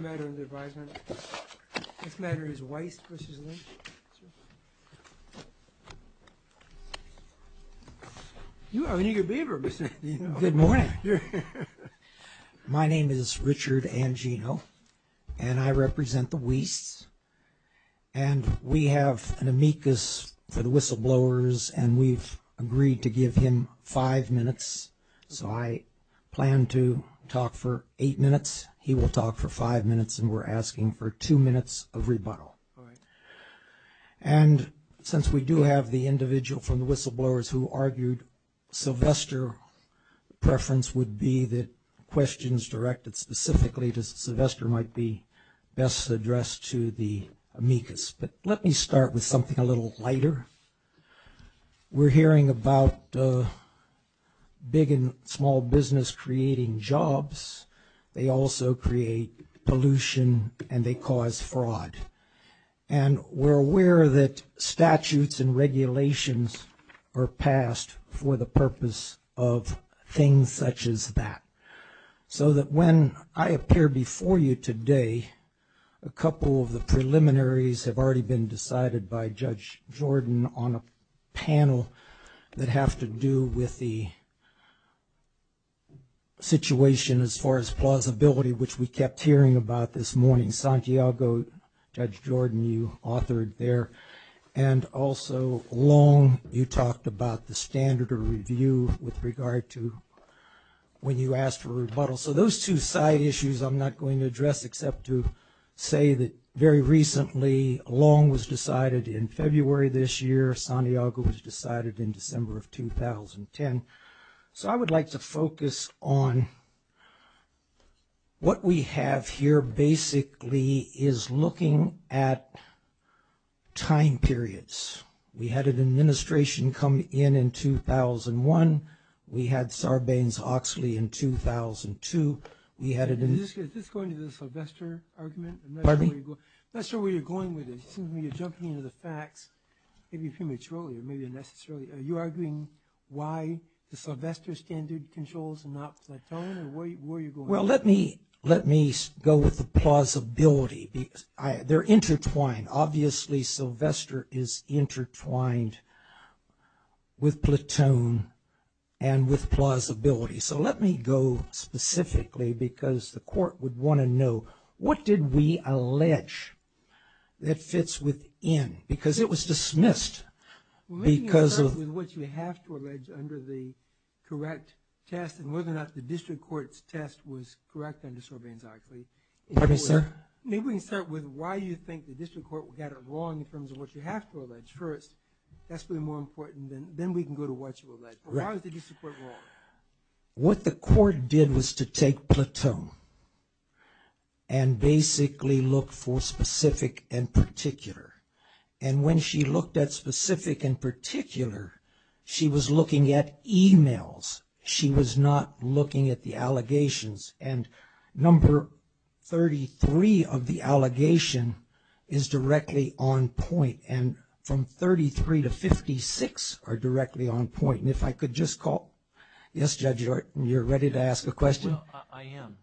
Good morning. My name is Richard Angino, and I represent the Wiest, and we have an amicus for the whistleblowers, and we've agreed to give him five minutes, so I plan to talk for eight minutes. He will talk for five minutes, and we're asking for two minutes of rebuttal. And since we do have the individual from the whistleblowers who argued Sylvester, the preference would be that questions directed specifically to Sylvester might be best addressed to the amicus. But let me start with something a little lighter. We're hearing about big and also create pollution and they cause fraud. And we're aware that statutes and regulations are passed for the purpose of things such as that. So that when I appear before you today, a couple of the preliminaries have already been decided by Judge Jordan on a situation as far as plausibility, which we kept hearing about this morning. Santiago, Judge Jordan, you authored there, and also Long, you talked about the standard of review with regard to when you asked for rebuttal. So those two side issues I'm not going to address except to say that very recently Long was decided in February this year, Santiago was decided in March. So I would like to focus on what we have here basically is looking at time periods. We had an administration come in in 2001. We had Sarbanes-Oxley in 2002. We had an administration... Is this going to the Sylvester argument? I'm not sure where you're going with this. It seems to me you're jumping into the facts maybe prematurely or maybe unnecessarily. Are you arguing why the Sylvester standard controls and not Platoon? Where are you going? Well, let me go with the plausibility. They're intertwined. Obviously, Sylvester is intertwined with Platoon and with plausibility. So let me go specifically because the court would want to know what did we allege that fits within because it was dismissed because of... Maybe we can start with what you have to allege under the correct test and whether or not the district court's test was correct under Sarbanes-Oxley. Pardon me, sir? Maybe we can start with why you think the district court got it wrong in terms of what you have to allege first. That's going to be more important. Then we can go to what you allege. Why was the district court wrong? What the court did was to take Platoon and basically look for specific and particular. And when she looked at specific and particular, she was looking at emails. She was not looking at the allegations. And number 33 of the allegation is directly on point. And from 33 to 56 are directly on point. And if I could just call... Yes, Judge, you're ready to ask a question? I am.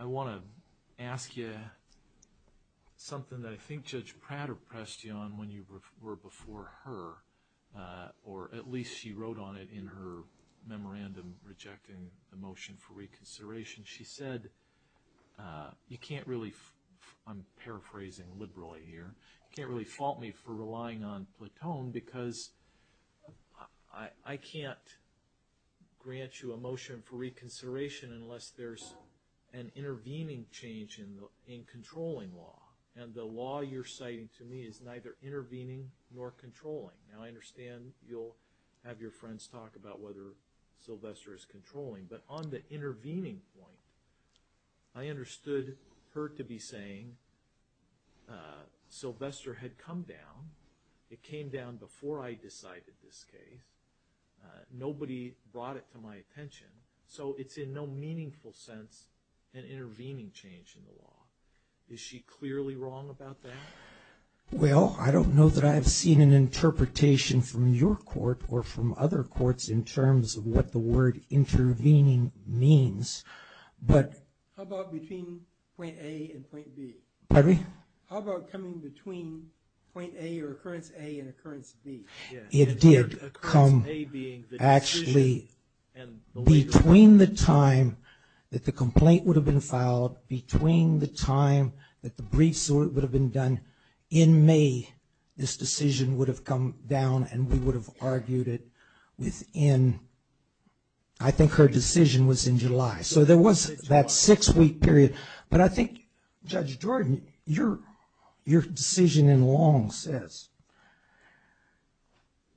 I want to ask you something that I think Judge Prater pressed you on when you were before her, or at least she wrote on it in her memorandum rejecting the motion for reconsideration. She said, you can't really, I'm paraphrasing liberally here, you can't really fault me for relying on Platoon because I can't grant you a motion for reconsideration unless there's an intervening change in controlling law. And the law you're citing to me is neither intervening nor controlling. Now, I understand you'll have your friends talk about whether that intervening point, I understood her to be saying Sylvester had come down. It came down before I decided this case. Nobody brought it to my attention. So it's in no meaningful sense an intervening change in the law. Is she clearly wrong about that? Well, I don't know that I've seen an interpretation from your court or from other courts in terms of what the word intervening means. How about between point A and point B? Pardon me? How about coming between point A or occurrence A and occurrence B? It did come, actually, between the time that the complaint would have been filed, between the time that the briefs would have been done, in May, this decision would have come down and we would have argued it within, I think her decision was in July. So there was that six-week period. But I think, Judge Jordan, your decision in Long says,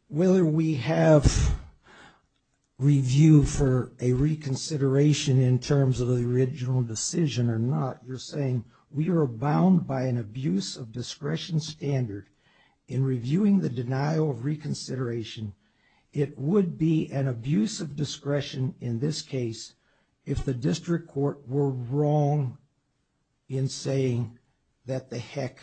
whether we have review for a reconsideration in terms of the original decision or not, you're saying we an abuse of discretion standard in reviewing the denial of reconsideration, it would be an abuse of discretion in this case if the district court were wrong in saying that the heck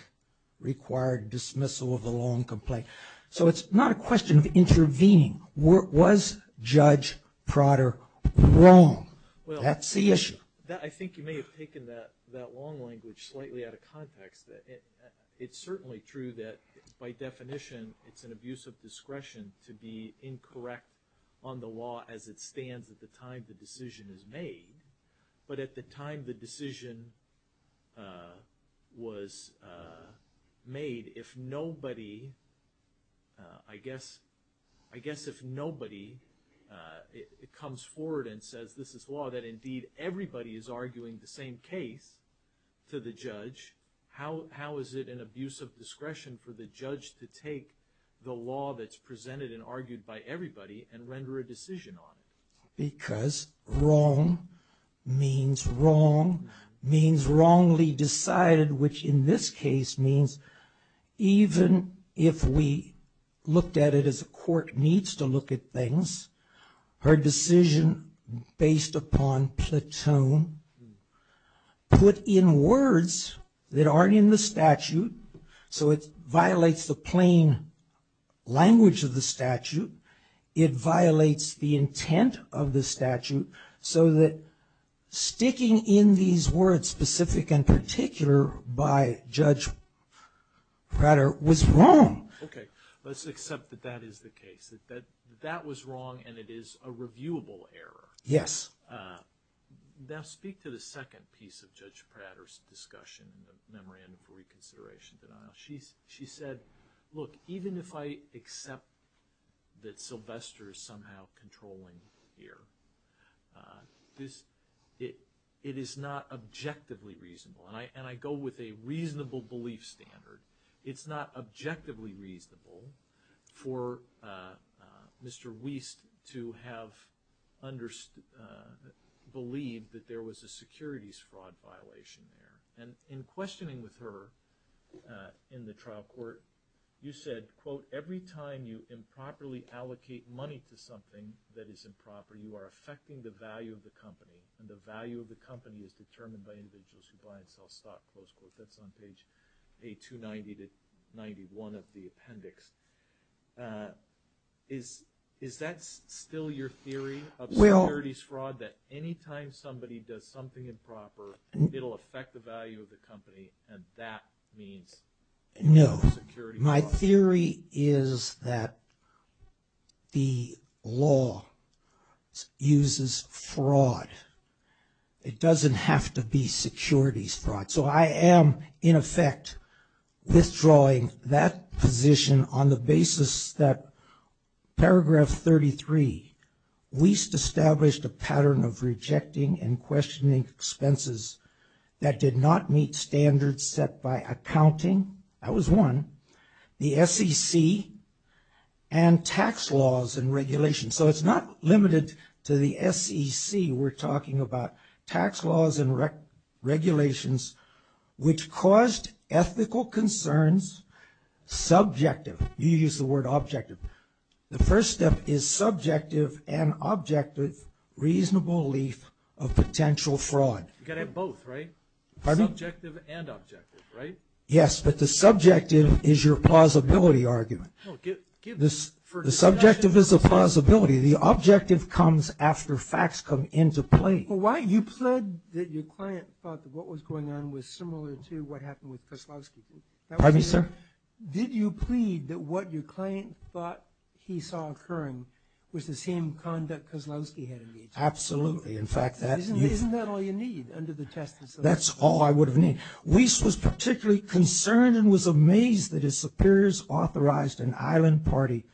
required dismissal of the Long complaint. So it's not a question of intervening. Was Judge Prater wrong? That's the issue. I think you may have taken that Long language slightly out of context. It's certainly true that by definition it's an abuse of discretion to be incorrect on the law as it stands at the time the decision is made. But at the time the decision was made, if nobody, I guess everybody is arguing the same case to the judge, how is it an abuse of discretion for the judge to take the law that's presented and argued by everybody and render a decision on it? Because wrong means wrong, means wrongly decided, which in this case means even if we looked at it as a court needs to look at things, her decision based upon platoon put in words that aren't in the statute, so it violates the plain language of the statute. It violates the intent of the statute so that sticking in these words specific and particular by Judge Prater was wrong. Okay, let's accept that that is the case. That that was wrong and it is a reviewable error. Yes. Now speak to the second piece of Judge Prater's discussion in the memorandum for reconsideration denial. She said, look, even if I accept that Sylvester is somehow controlling here, it is not objectively reasonable. And I go with a reasonable belief standard. It's not objectively reasonable for Mr. Wiest to have believed that there was a securities fraud violation there. And in questioning with her in the trial court, you said, quote, every time you improperly allocate money to something that is improper, you are affecting the value of the company and the value of the company is determined by individuals who buy and sell the appendix. Is that still your theory of securities fraud, that any time somebody does something improper, it'll affect the value of the company and that means security fraud? No. My theory is that the law uses fraud. It doesn't have to be securities fraud. So I am, in effect, withdrawing that position on the basis that paragraph 33, Wiest established a pattern of rejecting and questioning expenses that did not meet standards set by accounting. That was one. The SEC and tax laws and regulations. So it's not limited to the SEC. We're talking about tax laws and regulations, which caused ethical concerns. Subjective. You use the word objective. The first step is subjective and objective reasonable belief of potential fraud. You've got to have both, right? Subjective and objective, right? Yes, but the subjective is your plausibility argument. The subjective is a plausibility. The objective comes after the facts come into play. You plead that your client thought that what was going on was similar to what happened with Kozlowski. Pardon me, sir? Did you plead that what your client thought he saw occurring was the same conduct Kozlowski had engaged in? Absolutely. Isn't that all you need under the test? That's all I would have needed. Wiest was particularly concerned and was amazed that his superiors authorized an island party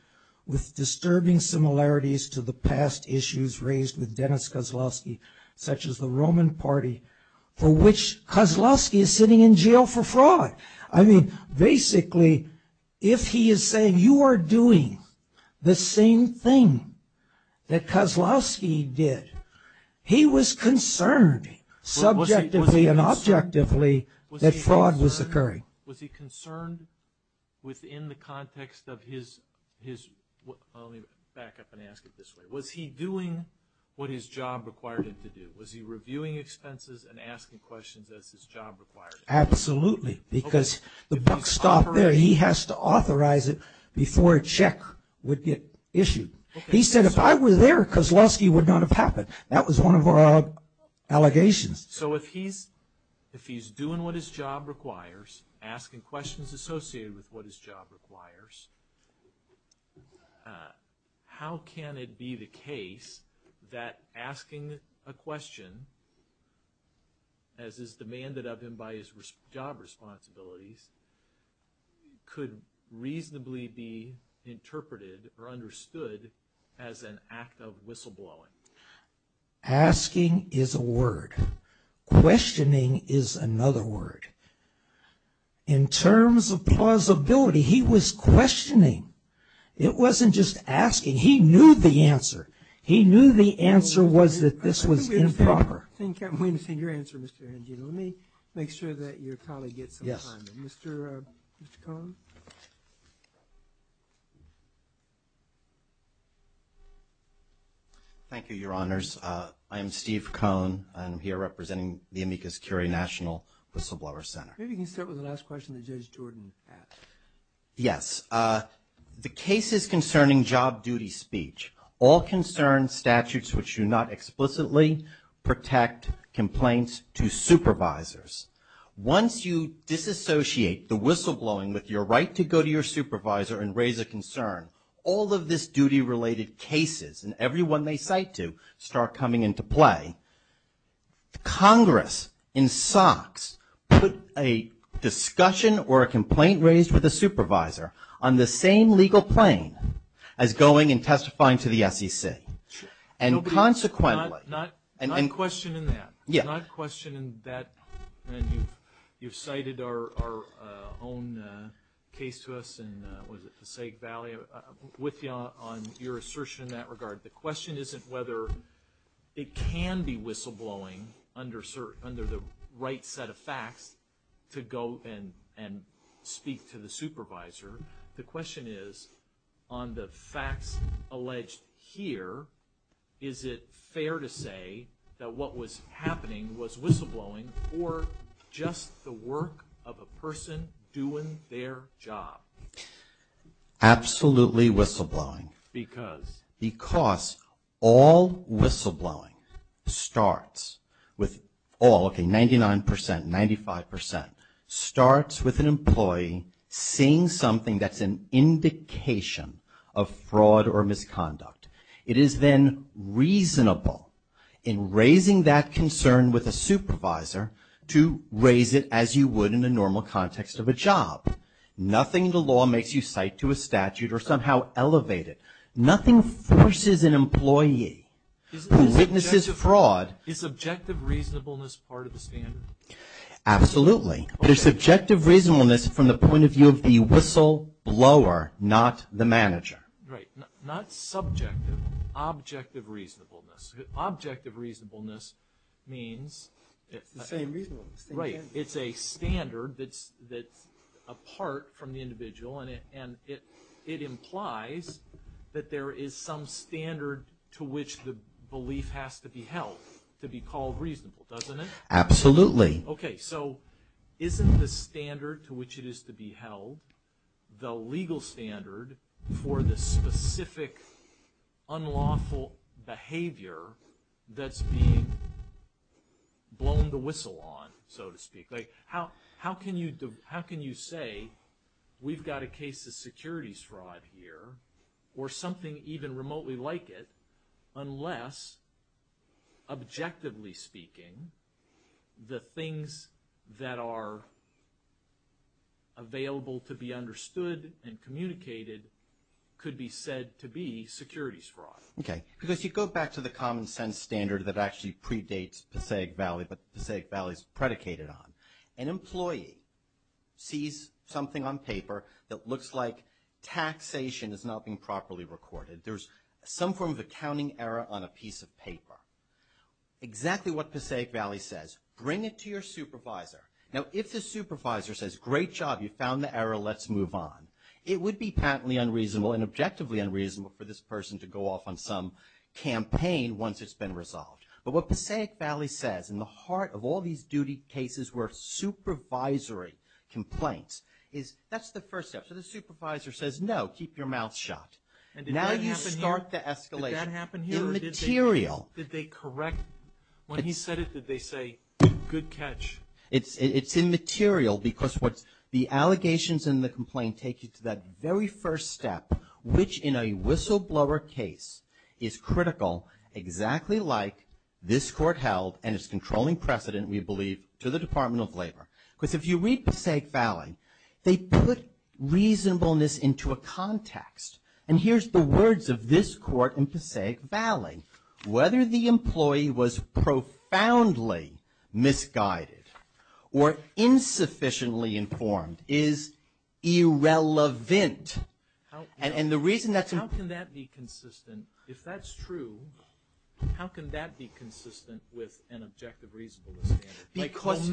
with disturbing similarities to the past issues raised with Dennis Kozlowski, such as the Roman Party, for which Kozlowski is sitting in jail for fraud. I mean, basically, if he is saying you are doing the same thing that Kozlowski did, he was concerned subjectively and objectively that fraud was occurring. Was he concerned within the context of his, let me back up and ask it this way, was he doing what his job required him to do? Was he reviewing expenses and asking questions as his job required him to? Absolutely, because the buck stopped there. He has to authorize it before a check would get issued. He said if I were there, Kozlowski would not have happened. That was one of our allegations. So if he's doing what his job requires, asking questions associated with what his job requires, how can it be the case that asking a question, as is demanded of him by his job responsibilities, could reasonably be interpreted or understood as an act of whistleblowing? Asking is a word. Questioning is another word. In terms of plausibility, he was questioning. It wasn't just asking. He knew the answer. He knew the answer was that this was improper. Thank you. I'm waiting to see your answer, Mr. Angino. Let me make sure that your colleague gets some time. Mr. Cohn? Thank you, Your Honors. I am Steve Cohn. I'm here representing the Amicus Curie National Whistleblower Center. Maybe you can start with the last question that Judge Jordan asked. Yes. The case is concerning job duty speech. All concerned statutes which do not explicitly protect complaints to supervisors. Once you disassociate the whistleblowing with your right to go to your supervisor and raise a concern, all of this duty-related cases, and every one they cite to, start coming into play. Congress, in socks, put a discussion or a complaint raised with a supervisor on the same legal plane as going and testifying to the SEC. Sure. And consequently... Not questioning that. Yeah. Not questioning that. And you've cited our own case to us in, what is it, Forsyth Valley, with you on your assertion in that regard. The question isn't whether it can be whistleblowing under the right set of facts to go and speak to the supervisor. The question is, on the facts alleged here, is it fair to say that what was happening was whistleblowing or just the work of a person doing their job? Absolutely whistleblowing. Because? Because all whistleblowing starts with all, okay, 99 percent, 95 percent, starts with an employee seeing something that's an indication of fraud or misconduct. It is then reasonable in raising that concern with a supervisor to raise it as you would in the normal context of a job. Nothing in the law makes you cite to a statute or somehow elevate it. Nothing forces an employee who witnesses fraud... Is objective reasonableness part of the standard? Absolutely. But it's objective reasonableness from the point of view of the whistleblower, not the manager. Right. Not subjective. Objective reasonableness. Objective reasonableness means... It's the same reasonableness. Right. It's a standard that's apart from the individual and it implies that there is some standard to which the belief has to be held to be called reasonable, doesn't it? Absolutely. Okay, so isn't the standard to which it is to be held the legal standard for the specific unlawful behavior that's being blown the whistle on, so to speak? Like, how can you say we've got a case of securities fraud here or something even remotely like it unless, objectively speaking, the things that are available to be understood and communicated could be said to be securities fraud. Okay. Because you go back to the common sense standard that actually predates Passaic Valley, but Passaic Valley is predicated on. An employee sees something on paper that looks like taxation is not being properly recorded. There's some form of accounting error on a piece of paper. Exactly what Passaic Valley says, bring it to your supervisor. Now, if the supervisor says, great job, you found the error, let's move on. It would be patently unreasonable and objectively unreasonable for this person to go off on some campaign once it's been part of all these duty cases where supervisory complaints. That's the first step. So the supervisor says, no, keep your mouth shut. And did that happen here? Now you start the escalation. Did that happen here? Immaterial. Did they correct? When he said it, did they say, good catch? It's immaterial because the allegations in the complaint take you to that very first step, which in a whistleblower case is critical, exactly like this court held and its controlling precedent, we believe, to the Department of Labor. Because if you read Passaic Valley, they put reasonableness into a context. And here's the words of this court in Passaic Valley. Whether the employee was profoundly misguided or insufficiently informed is irrelevant. And the reason that's... consistent, if that's true, how can that be consistent with an objective reasonableness standard? Because...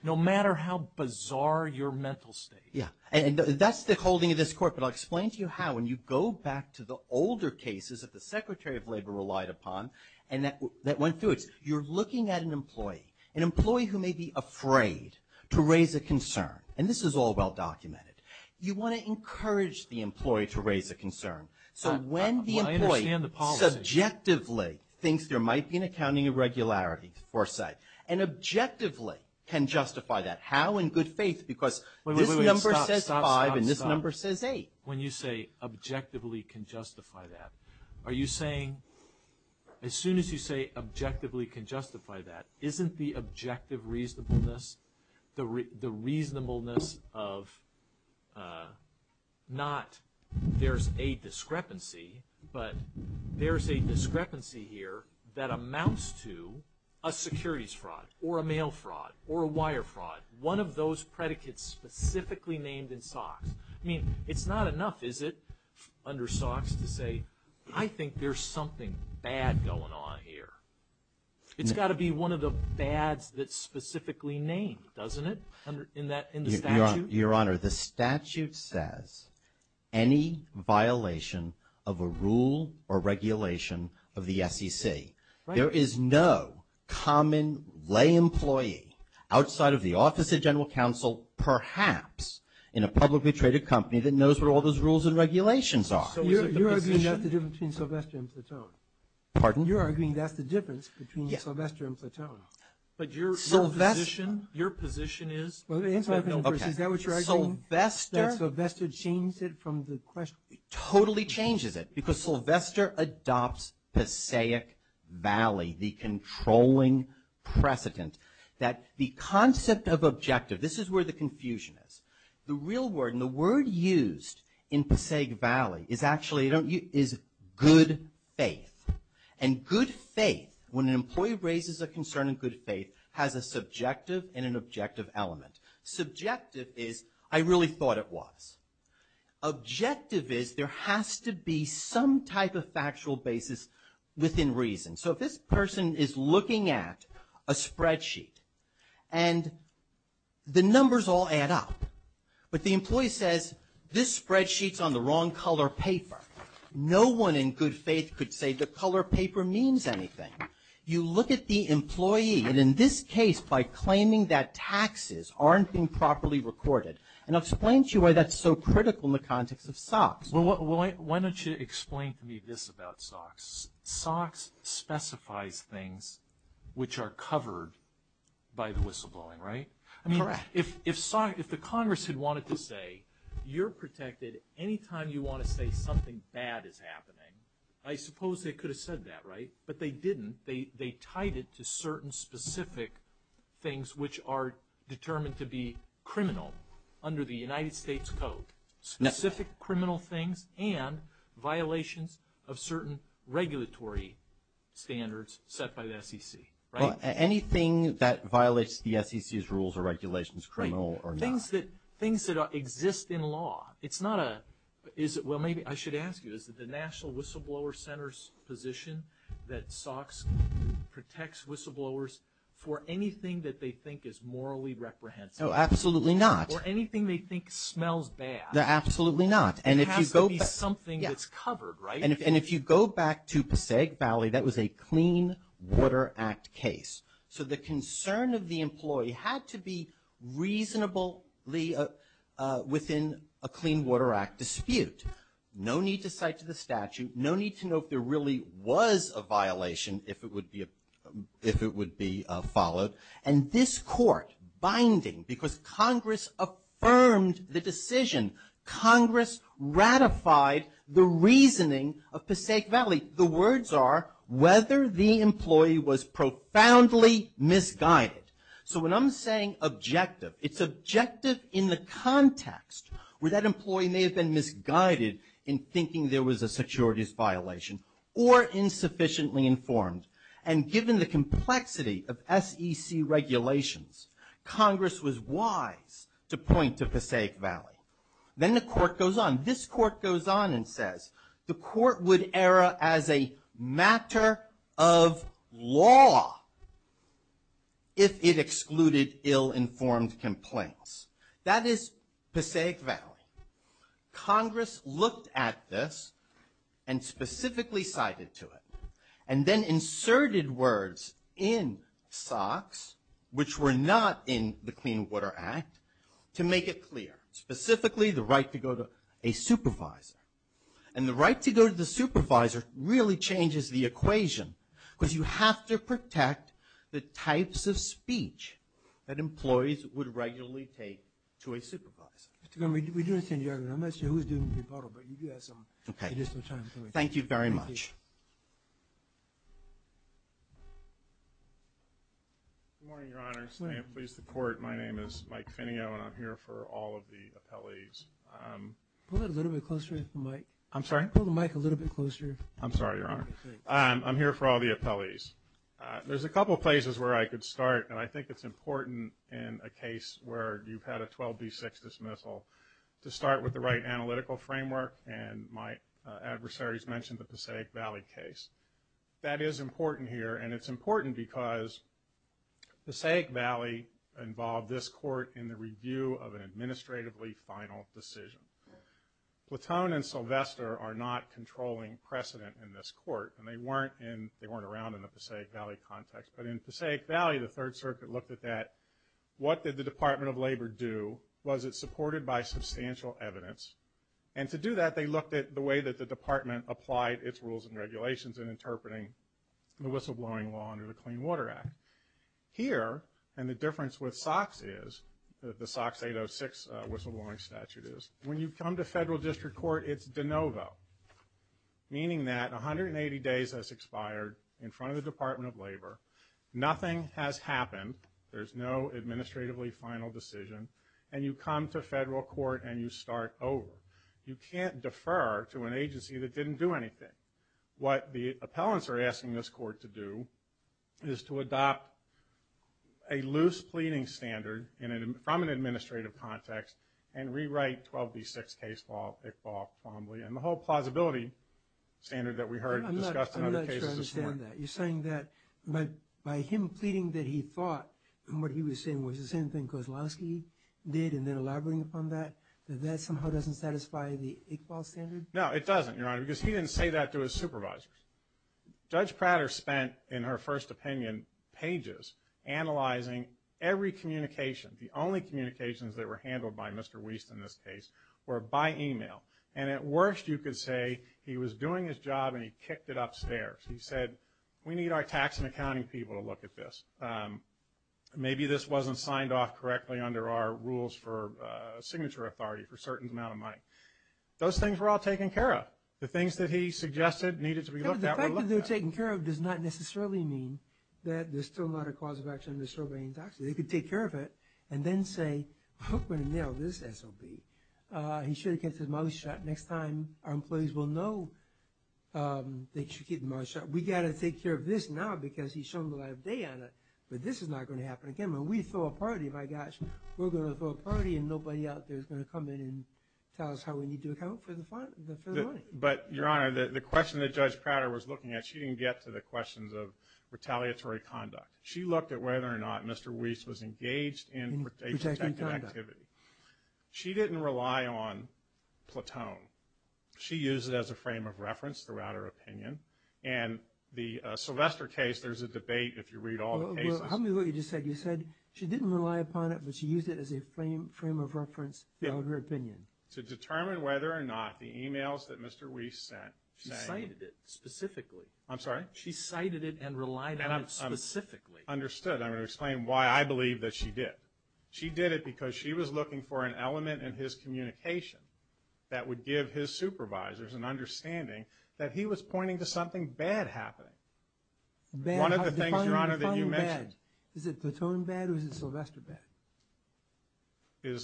No matter how bizarre your mental state. Yeah. And that's the holding of this court. But I'll explain to you how. When you go back to the older cases that the Secretary of Labor relied upon and that went through, you're looking at an employee, an employee who may be afraid to raise a concern. And this is all well documented. You want to encourage the employee to raise a concern. I understand the policy. So when the employee subjectively thinks there might be an accounting irregularity, foresight, and objectively can justify that, how? In good faith, because this number says five and this number says eight. When you say objectively can justify that, are you saying... as soon as you say objectively can justify that, isn't the objective reasonableness the reasonableness of not... there's a discretion discrepancy, but there's a discrepancy here that amounts to a securities fraud or a mail fraud or a wire fraud. One of those predicates specifically named in SOX. I mean, it's not enough, is it, under SOX to say, I think there's something bad going on here. It's got to be one of the bads that's specifically named, doesn't it, in the statute? Your Honor, the statute says any violation of a rule or regulation of the SEC. There is no common lay employee outside of the office of general counsel, perhaps in a publicly traded company that knows what all those rules and regulations are. So is it the position... You're arguing that's the difference between Sylvester and Plouton. Pardon? You're arguing that's the difference between Sylvester and Plouton. But your position is... Well, answer my question first. Is that what you're arguing? Sylvester... Sylvester changes it from the question. Totally changes it because Sylvester adopts Passaic Valley, the controlling precedent that the concept of objective, this is where the confusion is. The real word and the word used in Passaic Valley is actually, is good faith. And good faith, when an employee raises a concern in good faith, has a subjective and an objective element. Subjective is, I really thought it was. Objective is, there has to be some type of factual basis within reason. So if this person is looking at a spreadsheet and the numbers all add up, but the employee says, this spreadsheet's on the wrong color paper. No one in good faith could say the color paper means anything. You look at the employee, and in this case, by claiming that taxes aren't being properly recorded. And I'll explain to you why that's so critical in the context of SOX. Well, why don't you explain to me this about SOX. SOX specifies things which are covered by the whistleblowing, right? Correct. I mean, if the Congress had wanted to say, you're protected anytime you want to say something bad is happening, I suppose they could have said that, right? But they didn't. They tied it to certain specific things which are determined to be criminal under the United States Code. Specific criminal things and violations of certain regulatory standards set by the SEC, right? Anything that violates the SEC's rules or regulations is criminal or not. It's not that things that exist in law, it's not a, well, maybe I should ask you, is it the National Whistleblower Center's position that SOX protects whistleblowers for anything that they think is morally reprehensible? Oh, absolutely not. Or anything they think smells bad. Absolutely not. It has to be something that's covered, right? And if you go back to Passaic Valley, that was a Clean Water Act case. So the concern of the employee had to be reasonably within a Clean Water Act dispute. No need to cite to the statute. No need to know if there really was a violation if it would be followed. And this Court, binding, because Congress affirmed the decision, Congress ratified the So when I'm saying objective, it's objective in the context where that employee may have been misguided in thinking there was a securities violation or insufficiently informed. And given the complexity of SEC regulations, Congress was wise to point to Passaic Valley. Then the Court goes on. This Court goes on and says the Court would err as a matter of law if it excluded ill-informed complaints. That is Passaic Valley. Congress looked at this and specifically cited to it and then inserted words in SOX, which were not in the Clean Water Act, to make it clear. Specifically, the right to go to a supervisor. And the right to go to the supervisor really changes the equation, because you have to protect the types of speech that employees would regularly take to a supervisor. Mr. Gunn, we do understand your argument. I'm not sure who's doing the rebuttal, but you do have some time for me. Thank you very much. Good morning, Your Honor. My name is Mike Finio, and I'm here for all of the appellees. Pull it a little bit closer to the mic. I'm sorry? Pull the mic a little bit closer. I'm sorry, Your Honor. I'm here for all the appellees. There's a couple of places where I could start, and I think it's important in a case where you've had a 12B6 dismissal to start with the right analytical framework. And my adversaries mentioned the Passaic Valley case. That is important here, and it's important because Passaic Valley involved this court in the review of an administratively final decision. Platoon and Sylvester are not controlling precedent in this court, and they weren't around in the Passaic Valley context. But in Passaic Valley, the Third Circuit looked at that. What did the Department of Labor do? Was it supported by substantial evidence? And to do that, they looked at the way that the Department applied its rules and regulations in interpreting the whistleblowing law under the Clean Water Act. Here, and the difference with SOX is, the SOX 806 whistleblowing statute is, when you come to federal district court, it's de novo, meaning that 180 days has expired in front of the Department of Labor. Nothing has happened. There's no administratively final decision. And you come to federal court, and you start over. You can't defer to an agency that didn't do anything. What the appellants are asking this court to do is to adopt a loose pleading standard from an administrative context and rewrite 12D6 case law, and the whole plausibility standard that we heard discussed in other cases. You're saying that by him pleading that he thought what he was saying was the same thing Kozlowski did and then elaborating upon that, that that somehow doesn't satisfy the Iqbal standard? No, it doesn't, Your Honor, because he didn't say that to his supervisors. Judge Prater spent, in her first opinion, pages analyzing every communication. The only communications that were handled by Mr. Wiest in this case were by email. And at worst, you could say he was doing his job, and he kicked it upstairs. He said, we need our tax and accounting people to look at this. Maybe this wasn't signed off correctly under our rules for signature authority for a certain amount of money. Those things were all taken care of. The things that he suggested needed to be looked at were looked at. But the fact that they're taken care of does not necessarily mean that there's still not a cause of action to disrobe any taxes. They could take care of it and then say, oh, we're going to nail this SOB. He should have kept his mouth shut. Next time our employees will know, they should keep their mouth shut. We've got to take care of this now because he's shown the right of day on it. But this is not going to happen again. When we throw a party, my gosh, we're going to throw a party and nobody out there is going to come in and tell us how we need to account for the money. But, Your Honor, the question that Judge Prater was looking at, she didn't get to the questions of retaliatory conduct. She looked at whether or not Mr. Wiest was engaged in protective activity. She didn't rely on Platone. She used it as a frame of reference throughout her opinion. And the Sylvester case, there's a debate if you read all the cases. Well, help me with what you just said. You said she didn't rely upon it, but she used it as a frame of reference throughout her opinion. To determine whether or not the emails that Mr. Wiest sent. She cited it specifically. I'm sorry? She cited it and relied on it specifically. Understood. I'm going to explain why I believe that she did. She did it because she was looking for an element in his communication that would give his supervisors an understanding that he was pointing to something bad happening. One of the things, Your Honor, that you mentioned. Is it Platone bad or is it Sylvester bad?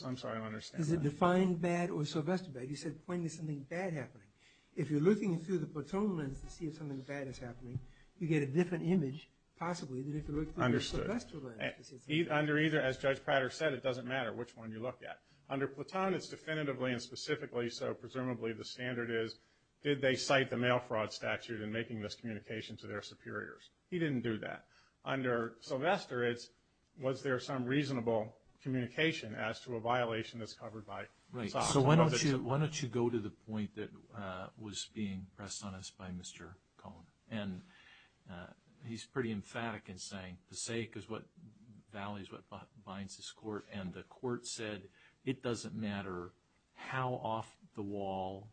I'm sorry, I don't understand. Is it defined bad or Sylvester bad? You said pointing to something bad happening. If you're looking through the Platone lens to see if something bad is happening, you get a different image, possibly, than if you look through the Sylvester lens. As Judge Prater said, it doesn't matter which one you look at. Under Platone, it's definitively and specifically, so presumably the standard is, did they cite the mail fraud statute in making this communication to their superiors? He didn't do that. Under Sylvester, it's was there some reasonable communication as to a violation that's covered by SOX? So why don't you go to the point that was being pressed on us by Mr. Cohn? He's pretty emphatic in saying Passaic Valley is what binds this court, and the court said it doesn't matter how off the wall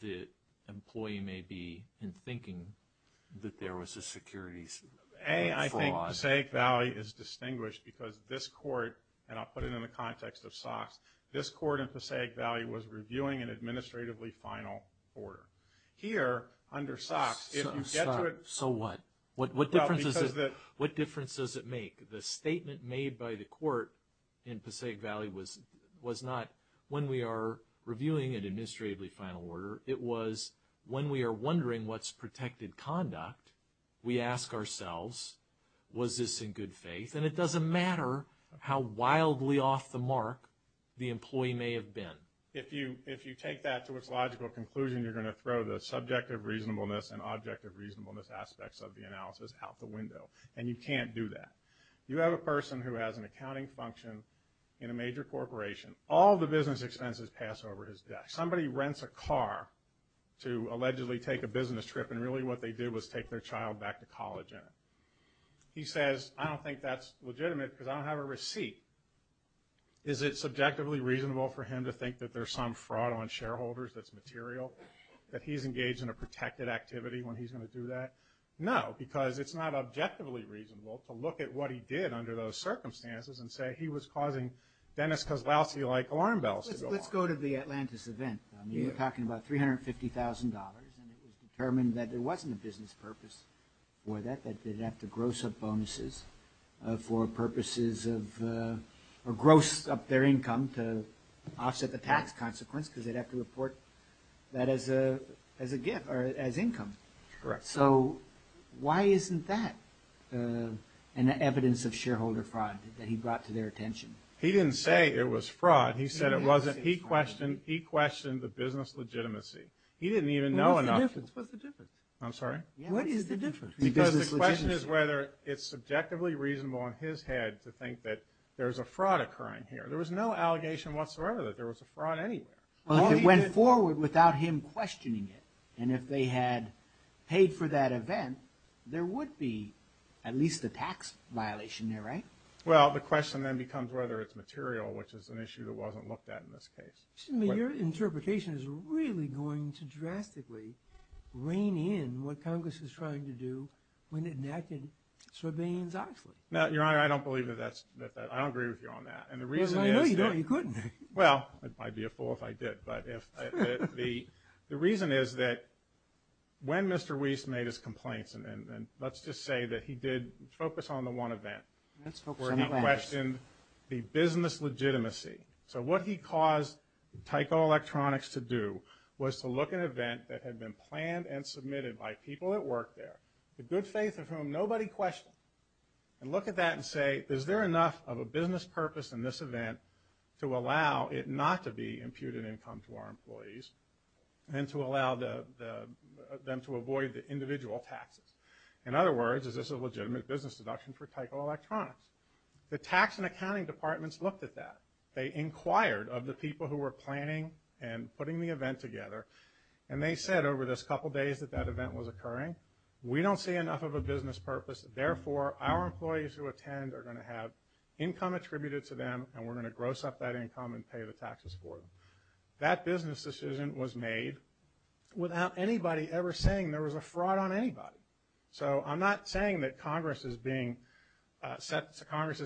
the employee may be in thinking that there was a securities fraud. I think Passaic Valley is distinguished because this court, and I'll put it in the context of SOX, this court in Passaic Valley was reviewing an administratively final order. Here, under SOX, if you get to it- So what? What difference does it make? The statement made by the court in Passaic Valley was not, when we are reviewing an administratively final order, it was when we are wondering what's protected conduct, we ask ourselves, was this in good faith? And it doesn't matter how wildly off the mark the employee may have been. If you take that to its logical conclusion, you're going to throw the subjective reasonableness and objective reasonableness aspects of the analysis out the window, and you can't do that. You have a person who has an accounting function in a major corporation. All the business expenses pass over his desk. Somebody rents a car to allegedly take a business trip, and really what they did was take their child back to college in it. He says, I don't think that's legitimate because I don't have a receipt. Is it subjectively reasonable for him to think that there's some fraud on shareholders that's material, that he's engaged in a protected activity when he's going to do that? No, because it's not objectively reasonable to look at what he did under those circumstances and say he was causing Dennis Kozlowski-like alarm bells to go off. Let's go to the Atlantis event. You're talking about $350,000, and it was determined that there wasn't a business purpose for that, that they'd have to gross up bonuses for purposes of, or gross up their income to offset the tax consequence because they'd have to report that as a gift or as income. Correct. So why isn't that an evidence of shareholder fraud that he brought to their attention? He didn't say it was fraud. He said it wasn't. He questioned the business legitimacy. He didn't even know enough. What's the difference? I'm sorry? What is the difference? Because the question is whether it's subjectively reasonable in his head to think that there's a fraud occurring here. There was no allegation whatsoever that there was a fraud anywhere. Well, if it went forward without him questioning it, and if they had paid for that event, there would be at least a tax violation there, right? Well, the question then becomes whether it's material, which is an issue that wasn't looked at in this case. Your interpretation is really going to drastically rein in what Congress is trying to do when it enacted Sarbanes-Oxley. Your Honor, I don't agree with you on that. Because I know you don't. You couldn't. Well, I'd be a fool if I did. But the reason is that when Mr. Weiss made his complaints, and let's just say that he did focus on the one event where he questioned the business legitimacy. So what he caused Tyco Electronics to do was to look at an event that had been planned and submitted by people that worked there, the good faith of whom nobody questioned, and look at that and say, is there enough of a business purpose in this event to allow it not to be imputed income to our employees and to allow them to avoid the individual taxes? In other words, is this a legitimate business deduction for Tyco Electronics? The tax and accounting departments looked at that. They inquired of the people who were planning and putting the event together, and they said over this couple days that that event was occurring, we don't see enough of a business purpose. Therefore, our employees who attend are going to have income attributed to them, and we're going to gross up that income and pay the taxes for them. That business decision was made without anybody ever saying there was a fraud on anybody. So I'm not saying that Congress's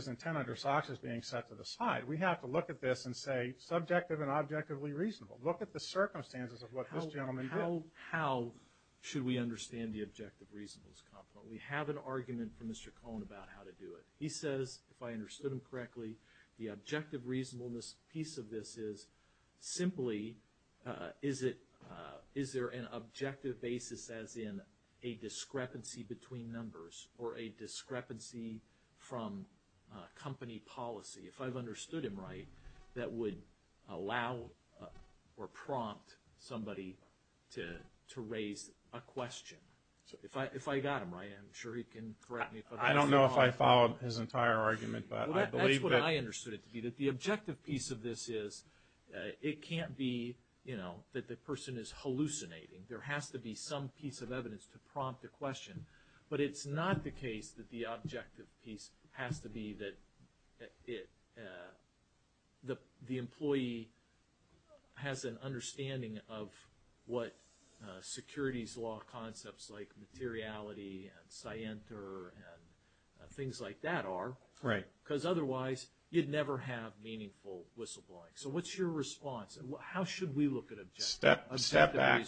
intent under SOX is being set to the side. We have to look at this and say, subjective and objectively reasonable. Look at the circumstances of what this gentleman did. How should we understand the objective reasonableness component? We have an argument from Mr. Cohen about how to do it. He says, if I understood him correctly, the objective reasonableness piece of this is simply is there an objective basis as in a discrepancy between numbers or a discrepancy from company policy, if I've understood him right, that would allow or prompt somebody to raise a question. If I got him right, I'm sure he can correct me. I don't know if I followed his entire argument. That's what I understood it to be. The objective piece of this is it can't be that the person is hallucinating. There has to be some piece of evidence to prompt a question. But it's not the case that the objective piece has to be that the employee has an understanding of what securities law concepts like materiality and scienter and things like that are. Right. Because otherwise, you'd never have meaningful whistleblowing. So what's your response? How should we look at objective reasonableness? Step back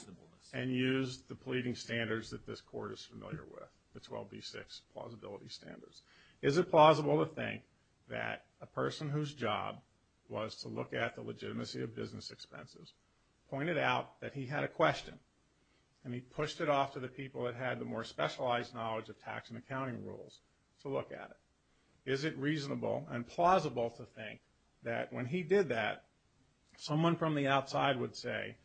and use the pleading standards that this court is familiar with, the 12B6 plausibility standards. Is it plausible to think that a person whose job was to look at the legitimacy of business expenses pointed out that he had a question, and he pushed it off to the people that had the more specialized knowledge of tax and accounting rules to look at it? Is it reasonable and plausible to think that when he did that, someone from the outside would say,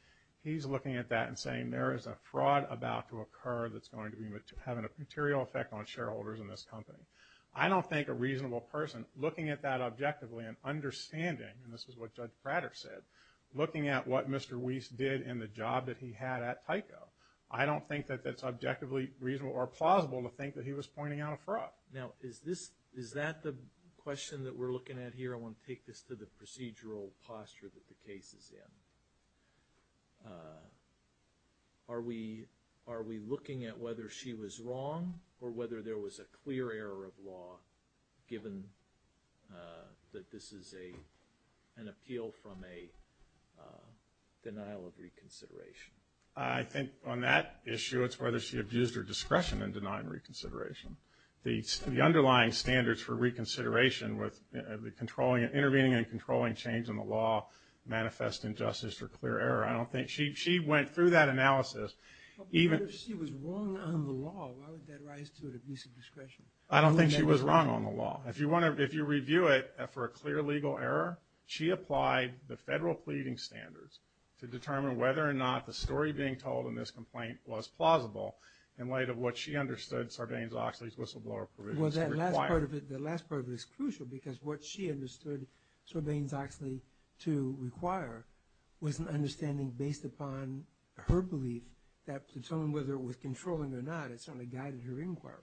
he's looking at that and saying there is a fraud about to occur that's going to be having a material effect on shareholders in this company. I don't think a reasonable person looking at that objectively and understanding, and this is what Judge Prater said, looking at what Mr. Weiss did in the job that he had at Tyco, I don't think that that's objectively reasonable or plausible to think that he was pointing out a fraud. Now, is that the question that we're looking at here? I want to take this to the procedural posture that the case is in. Are we looking at whether she was wrong or whether there was a clear error of law given that this is an appeal from a denial of reconsideration? I think on that issue, it's whether she abused her discretion in denying reconsideration. The underlying standards for reconsideration with intervening and controlling change in the law manifest injustice or clear error. She went through that analysis. If she was wrong on the law, why would that rise to an abuse of discretion? I don't think she was wrong on the law. If you review it for a clear legal error, she applied the federal pleading standards to determine whether or not the story being told in this complaint was plausible in light of what she understood Sarbanes-Oxley's whistleblower provisions required. The last part of it is crucial because what she understood Sarbanes-Oxley to require was an understanding based upon her belief that Pluton, whether it was controlling or not, it certainly guided her inquiry.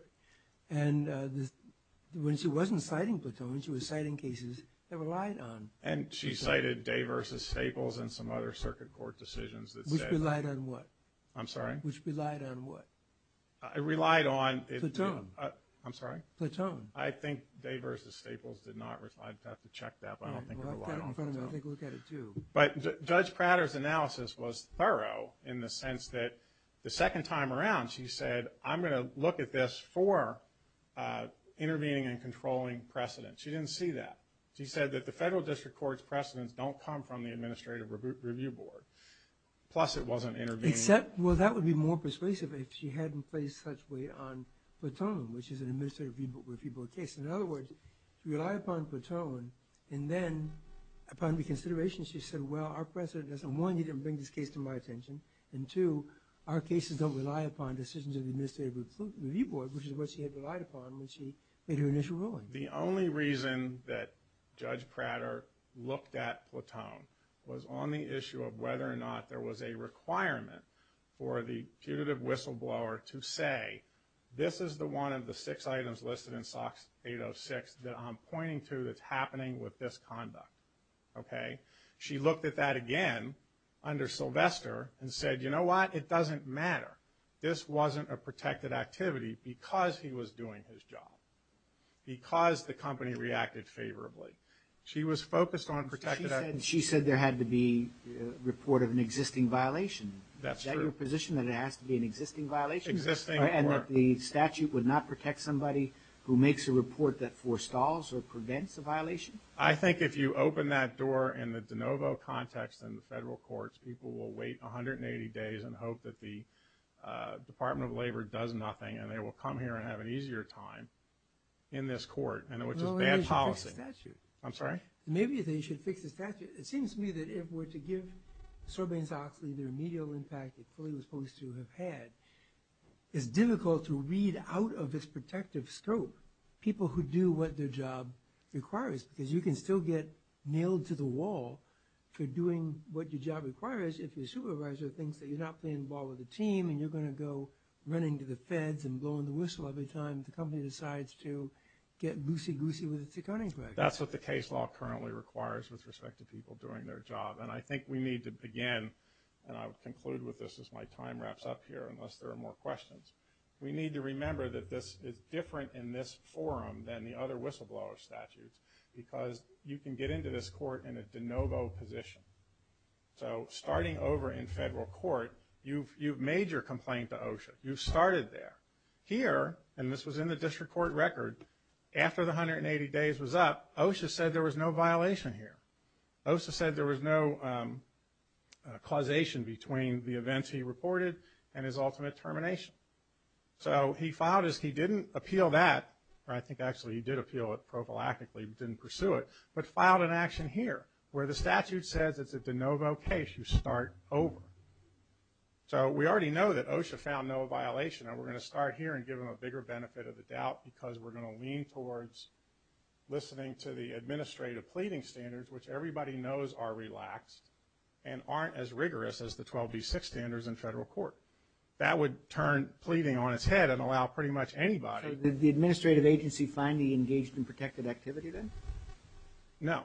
When she wasn't citing Pluton, she was citing cases that relied on Pluton. She cited Day v. Staples and some other circuit court decisions that said... Which relied on what? I'm sorry? Which relied on what? It relied on... Pluton. I'm sorry? Pluton. I think Day v. Staples did not... I'd have to check that, but I don't think it relied on Pluton. I'll take a look at it too. But Judge Prater's analysis was thorough in the sense that the second time around she said, I'm going to look at this for intervening and controlling precedent. She didn't see that. She said that the federal district court's precedents don't come from the administrative review board. Plus it wasn't intervening... Except, well, that would be more persuasive if she hadn't placed such weight on Pluton, which is an administrative review board case. In other words, she relied upon Pluton, and then, upon reconsideration, she said, well, our precedent doesn't... One, you didn't bring this case to my attention, and two, our cases don't rely upon decisions of the administrative review board, which is what she had relied upon when she made her initial ruling. The only reason that Judge Prater looked at Pluton was on the issue of whether or not there was a requirement for the punitive whistleblower to say, this is the one of the six items listed in SOX 806 that I'm pointing to that's happening with this conduct. Okay? She looked at that again under Sylvester and said, you know what? It doesn't matter. This wasn't a protected activity because he was doing his job, because the company reacted favorably. She was focused on protected... She said there had to be a report of an existing violation. That's true. Is that your position, that it has to be an existing violation? Existing or... And that the statute would not protect somebody who makes a report that forestalls or prevents a violation? I think if you open that door in the de novo context in the federal courts, people will wait 180 days and hope that the Department of Labor does nothing, and they will come here and have an easier time in this court, which is bad policy. Maybe they should fix the statute. I'm sorry? Maybe they should fix the statute. It seems to me that if we're to give Sorbane-Zoxley their medial impact that he was supposed to have had, it's difficult to read out of this protective scope people who do what their job requires because you can still get nailed to the wall for doing what your job requires if your supervisor thinks that you're not playing ball with the team and you're going to go running to the feds and blowing the whistle every time the company decides to get loosey-goosey with its accounting practice. That's what the case law currently requires with respect to people doing their job, and I think we need to begin, and I'll conclude with this as my time wraps up here unless there are more questions. We need to remember that this is different in this forum than the other whistleblower statutes because you can get into this court in a de novo position. So starting over in federal court, you've made your complaint to OSHA. You've started there. Here, and this was in the district court record, after the 180 days was up, OSHA said there was no violation here. OSHA said there was no causation between the events he reported and his ultimate termination. So he filed as he didn't appeal that, or I think actually he did appeal it prophylactically, but didn't pursue it, but filed an action here where the statute says it's a de novo case, you start over. So we already know that OSHA found no violation, and we're going to start here and give them a bigger benefit of the doubt because we're going to lean towards listening to the administrative pleading standards, which everybody knows are relaxed and aren't as rigorous as the 12B6 standards in federal court. That would turn pleading on its head and allow pretty much anybody. So did the administrative agency finally engage in protected activity then? No.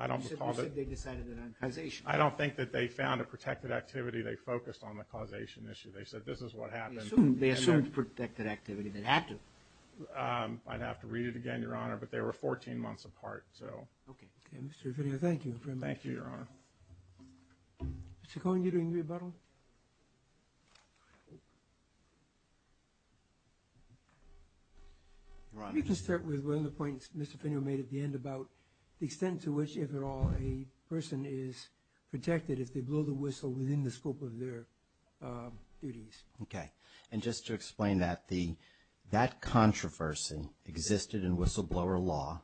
You said they decided it on causation. I don't think that they found a protected activity. They focused on the causation issue. They said this is what happened. They assumed protected activity. They had to. I'd have to read it again, Your Honor, but they were 14 months apart. Okay. Mr. Fenio, thank you very much. Thank you, Your Honor. Mr. Cohen, you're doing rebuttal? You can start with one of the points Mr. Fenio made at the end about the extent to which, if at all, a person is protected if they blow the whistle within the scope of their duties. Okay. And just to explain that, that controversy existed in whistleblower law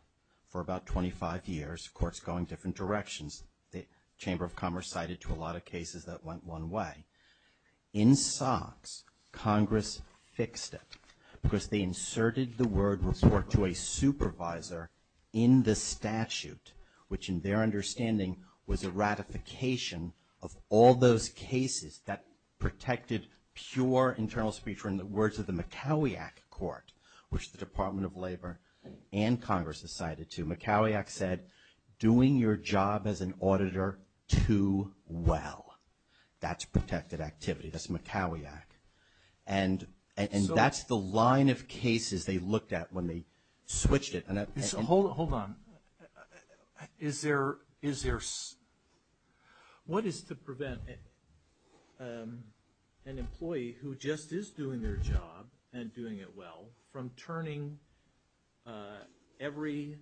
for about 25 years, courts going different directions. The Chamber of Commerce cited to a lot of cases that went one way. In SOX, Congress fixed it because they inserted the word report to a supervisor in the statute, which in their understanding was a ratification of all those cases that protected pure internal speech. In the words of the McCowiack Court, which the Department of Labor and Congress decided to, McCowiack said, doing your job as an auditor too well. That's protected activity. That's McCowiack. And that's the line of cases they looked at when they switched it. Hold on. Is there… What is to prevent an employee who just is doing their job and doing it well from turning every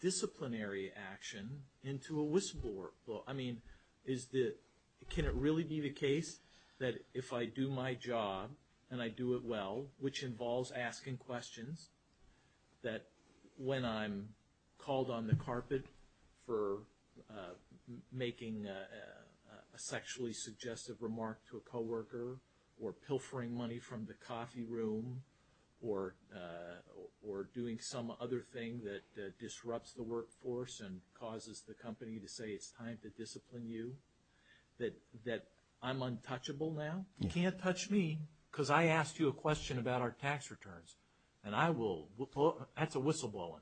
disciplinary action into a whistleblower? I mean, can it really be the case that if I do my job and I do it well, which involves asking questions, that when I'm called on the carpet for making a sexually suggestive remark to a co-worker or pilfering money from the coffee room or doing some other thing that disrupts the workforce and causes the company to say it's time to discipline you, that I'm untouchable now? You can't touch me because I asked you a question about our tax returns. And I will… That's a whistleblowing.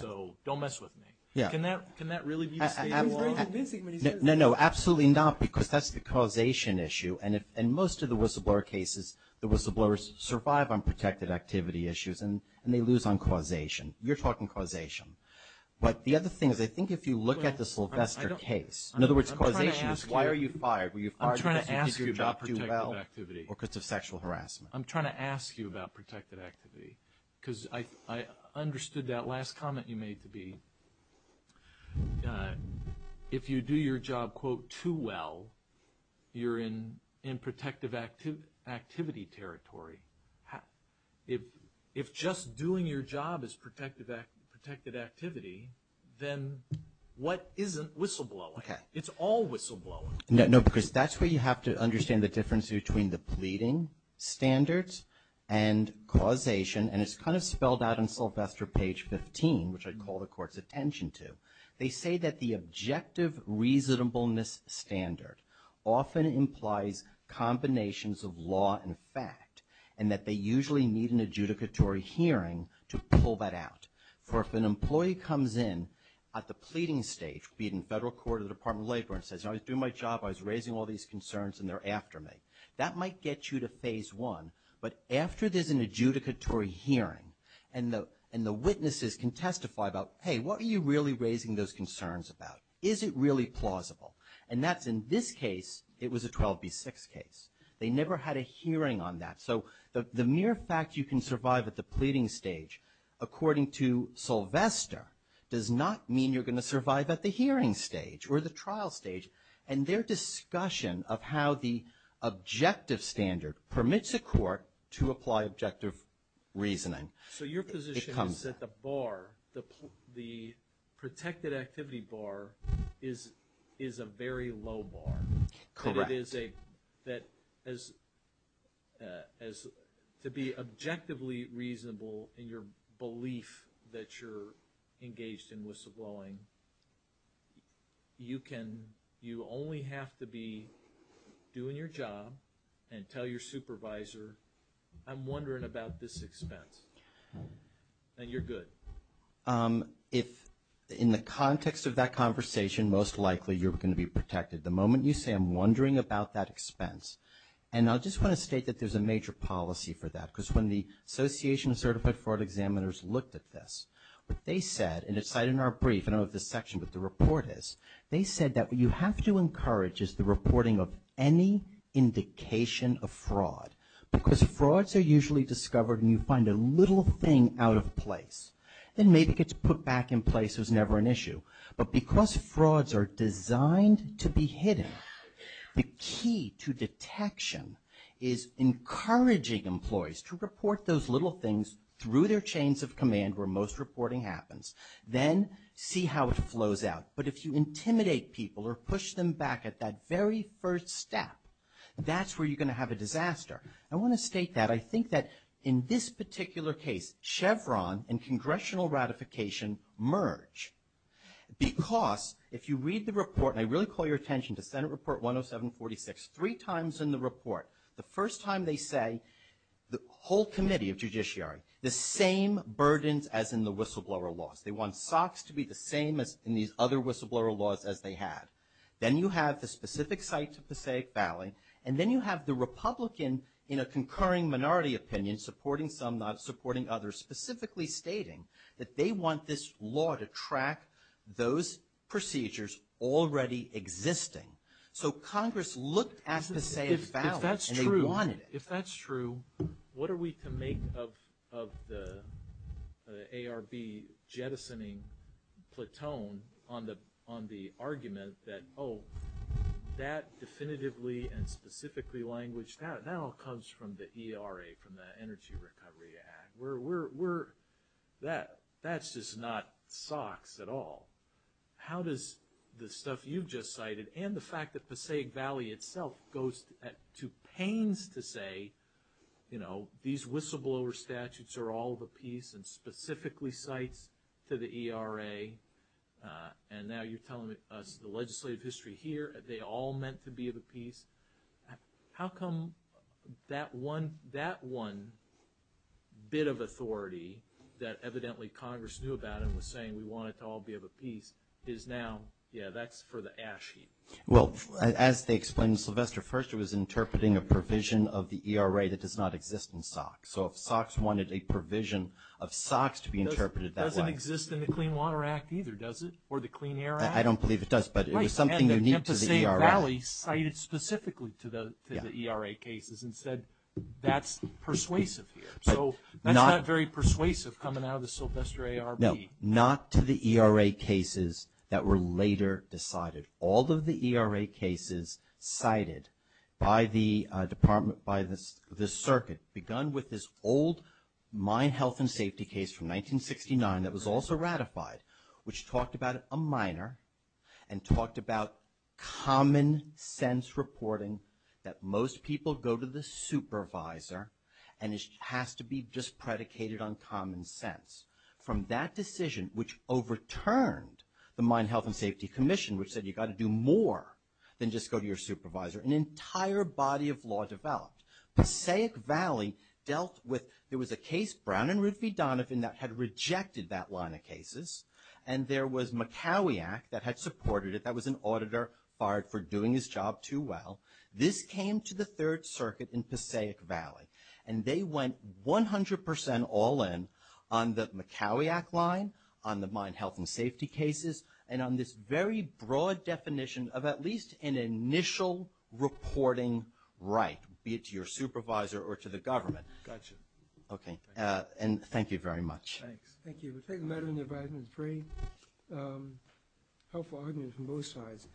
So don't mess with me. Can that really be the case? No, no, absolutely not because that's the causation issue. And most of the whistleblower cases, the whistleblowers survive on protected activity issues and they lose on causation. You're talking causation. But the other thing is I think if you look at the Sylvester case… In other words, causation is why are you fired? I'm trying to ask you about protected activity. Or because of sexual harassment. I'm trying to ask you about protected activity because I understood that last comment you made to be if you do your job, quote, too well, you're in protective activity territory. If just doing your job is protected activity, then what isn't whistleblowing? It's all whistleblowing. No, because that's where you have to understand the difference between the pleading standards and causation. And it's kind of spelled out on Sylvester page 15, which I call the court's attention to. They say that the objective reasonableness standard often implies combinations of law and fact and that they usually need an adjudicatory hearing to pull that out. For if an employee comes in at the pleading stage, be it in federal court or the Department of Labor, and says, I was doing my job, I was raising all these concerns, and they're after me, that might get you to phase one. But after there's an adjudicatory hearing and the witnesses can testify about, hey, what are you really raising those concerns about? Is it really plausible? And that's in this case, it was a 12B6 case. They never had a hearing on that. So the mere fact you can survive at the pleading stage, according to Sylvester, does not mean you're going to survive at the hearing stage or the trial stage. And their discussion of how the objective standard permits a court to apply objective reasoning becomes... So your position is that the bar, the protected activity bar, is a very low bar. Correct. That it is a... To be objectively reasonable in your belief that you're engaged in whistleblowing, you can... You only have to be doing your job and tell your supervisor, I'm wondering about this expense. And you're good. If, in the context of that conversation, most likely you're going to be protected. The moment you say, I'm wondering about that expense, and I just want to state that there's a major policy for that, because when the Association of Certified Fraud Examiners looked at this, what they said, and it's cited in our brief, I don't know if this section, but the report is, they said that what you have to encourage is the reporting of any indication of fraud. Because frauds are usually discovered and you find a little thing out of place. Then maybe it gets put back in place, it was never an issue. But because frauds are designed to be hidden, the key to detection is encouraging employees to report those little things through their chains of command where most reporting happens. Then see how it flows out. But if you intimidate people or push them back at that very first step, that's where you're going to have a disaster. I want to state that. I think that in this particular case, Chevron and congressional ratification merge. Because if you read the report, and I really call your attention to Senate Report 107-46, three times in the report, the first time they say, the whole committee of judiciary, the same burdens as in the whistleblower laws. They want socks to be the same as in these other whistleblower laws as they had. Then you have the specific site to Passaic Valley, and then you have the Republican, in a concurring minority opinion, supporting some, not supporting others, specifically stating that they want this law to track those procedures already existing. So Congress looked at Passaic Valley, and they wanted it. If that's true, what are we to make of the ARB jettisoning platoon on the argument that, oh, that definitively and specifically language, that all comes from the ERA, from the Energy Recovery Act. That's just not socks at all. How does the stuff you've just cited and the fact that Passaic Valley itself goes to pains to say, these whistleblower statutes are all of a piece and specifically cites to the ERA, and now you're telling us the legislative history here, they all meant to be of a piece. How come that one bit of authority that evidently Congress knew about and was saying we want it to all be of a piece, is now, yeah, that's for the ash heap. Well, as they explained to Sylvester first, it was interpreting a provision of the ERA that does not exist in socks. So if socks wanted a provision of socks to be interpreted that way. It doesn't exist in the Clean Water Act either, does it? Or the Clean Air Act? I don't believe it does, but it was something unique to the ERA. And Passaic Valley cited specifically to the ERA cases and said that's persuasive here. So that's not very persuasive coming out of the Sylvester ARB. No, not to the ERA cases that were later decided. All of the ERA cases cited by the circuit, begun with this old mine health and safety case from 1969 that was also ratified, which talked about a miner and talked about common sense reporting that most people go to the supervisor and it has to be just predicated on common sense. From that decision, which overturned the Mine Health and Safety Commission, which said you've got to do more than just go to your supervisor, an entire body of law developed. Passaic Valley dealt with, there was a case, Brown and Ruth V. Donovan, that had rejected that line of cases and there was McCowie Act that had supported it. That was an auditor fired for doing his job too well. This came to the Third Circuit in Passaic Valley and they went 100% all in on the McCowie Act line, on the mine health and safety cases and on this very broad definition of at least an initial reporting right, be it to your supervisor or to the government. Gotcha. Okay. And thank you very much. Thanks. Thank you. I think the matter in the advisement is a very helpful argument from both sides.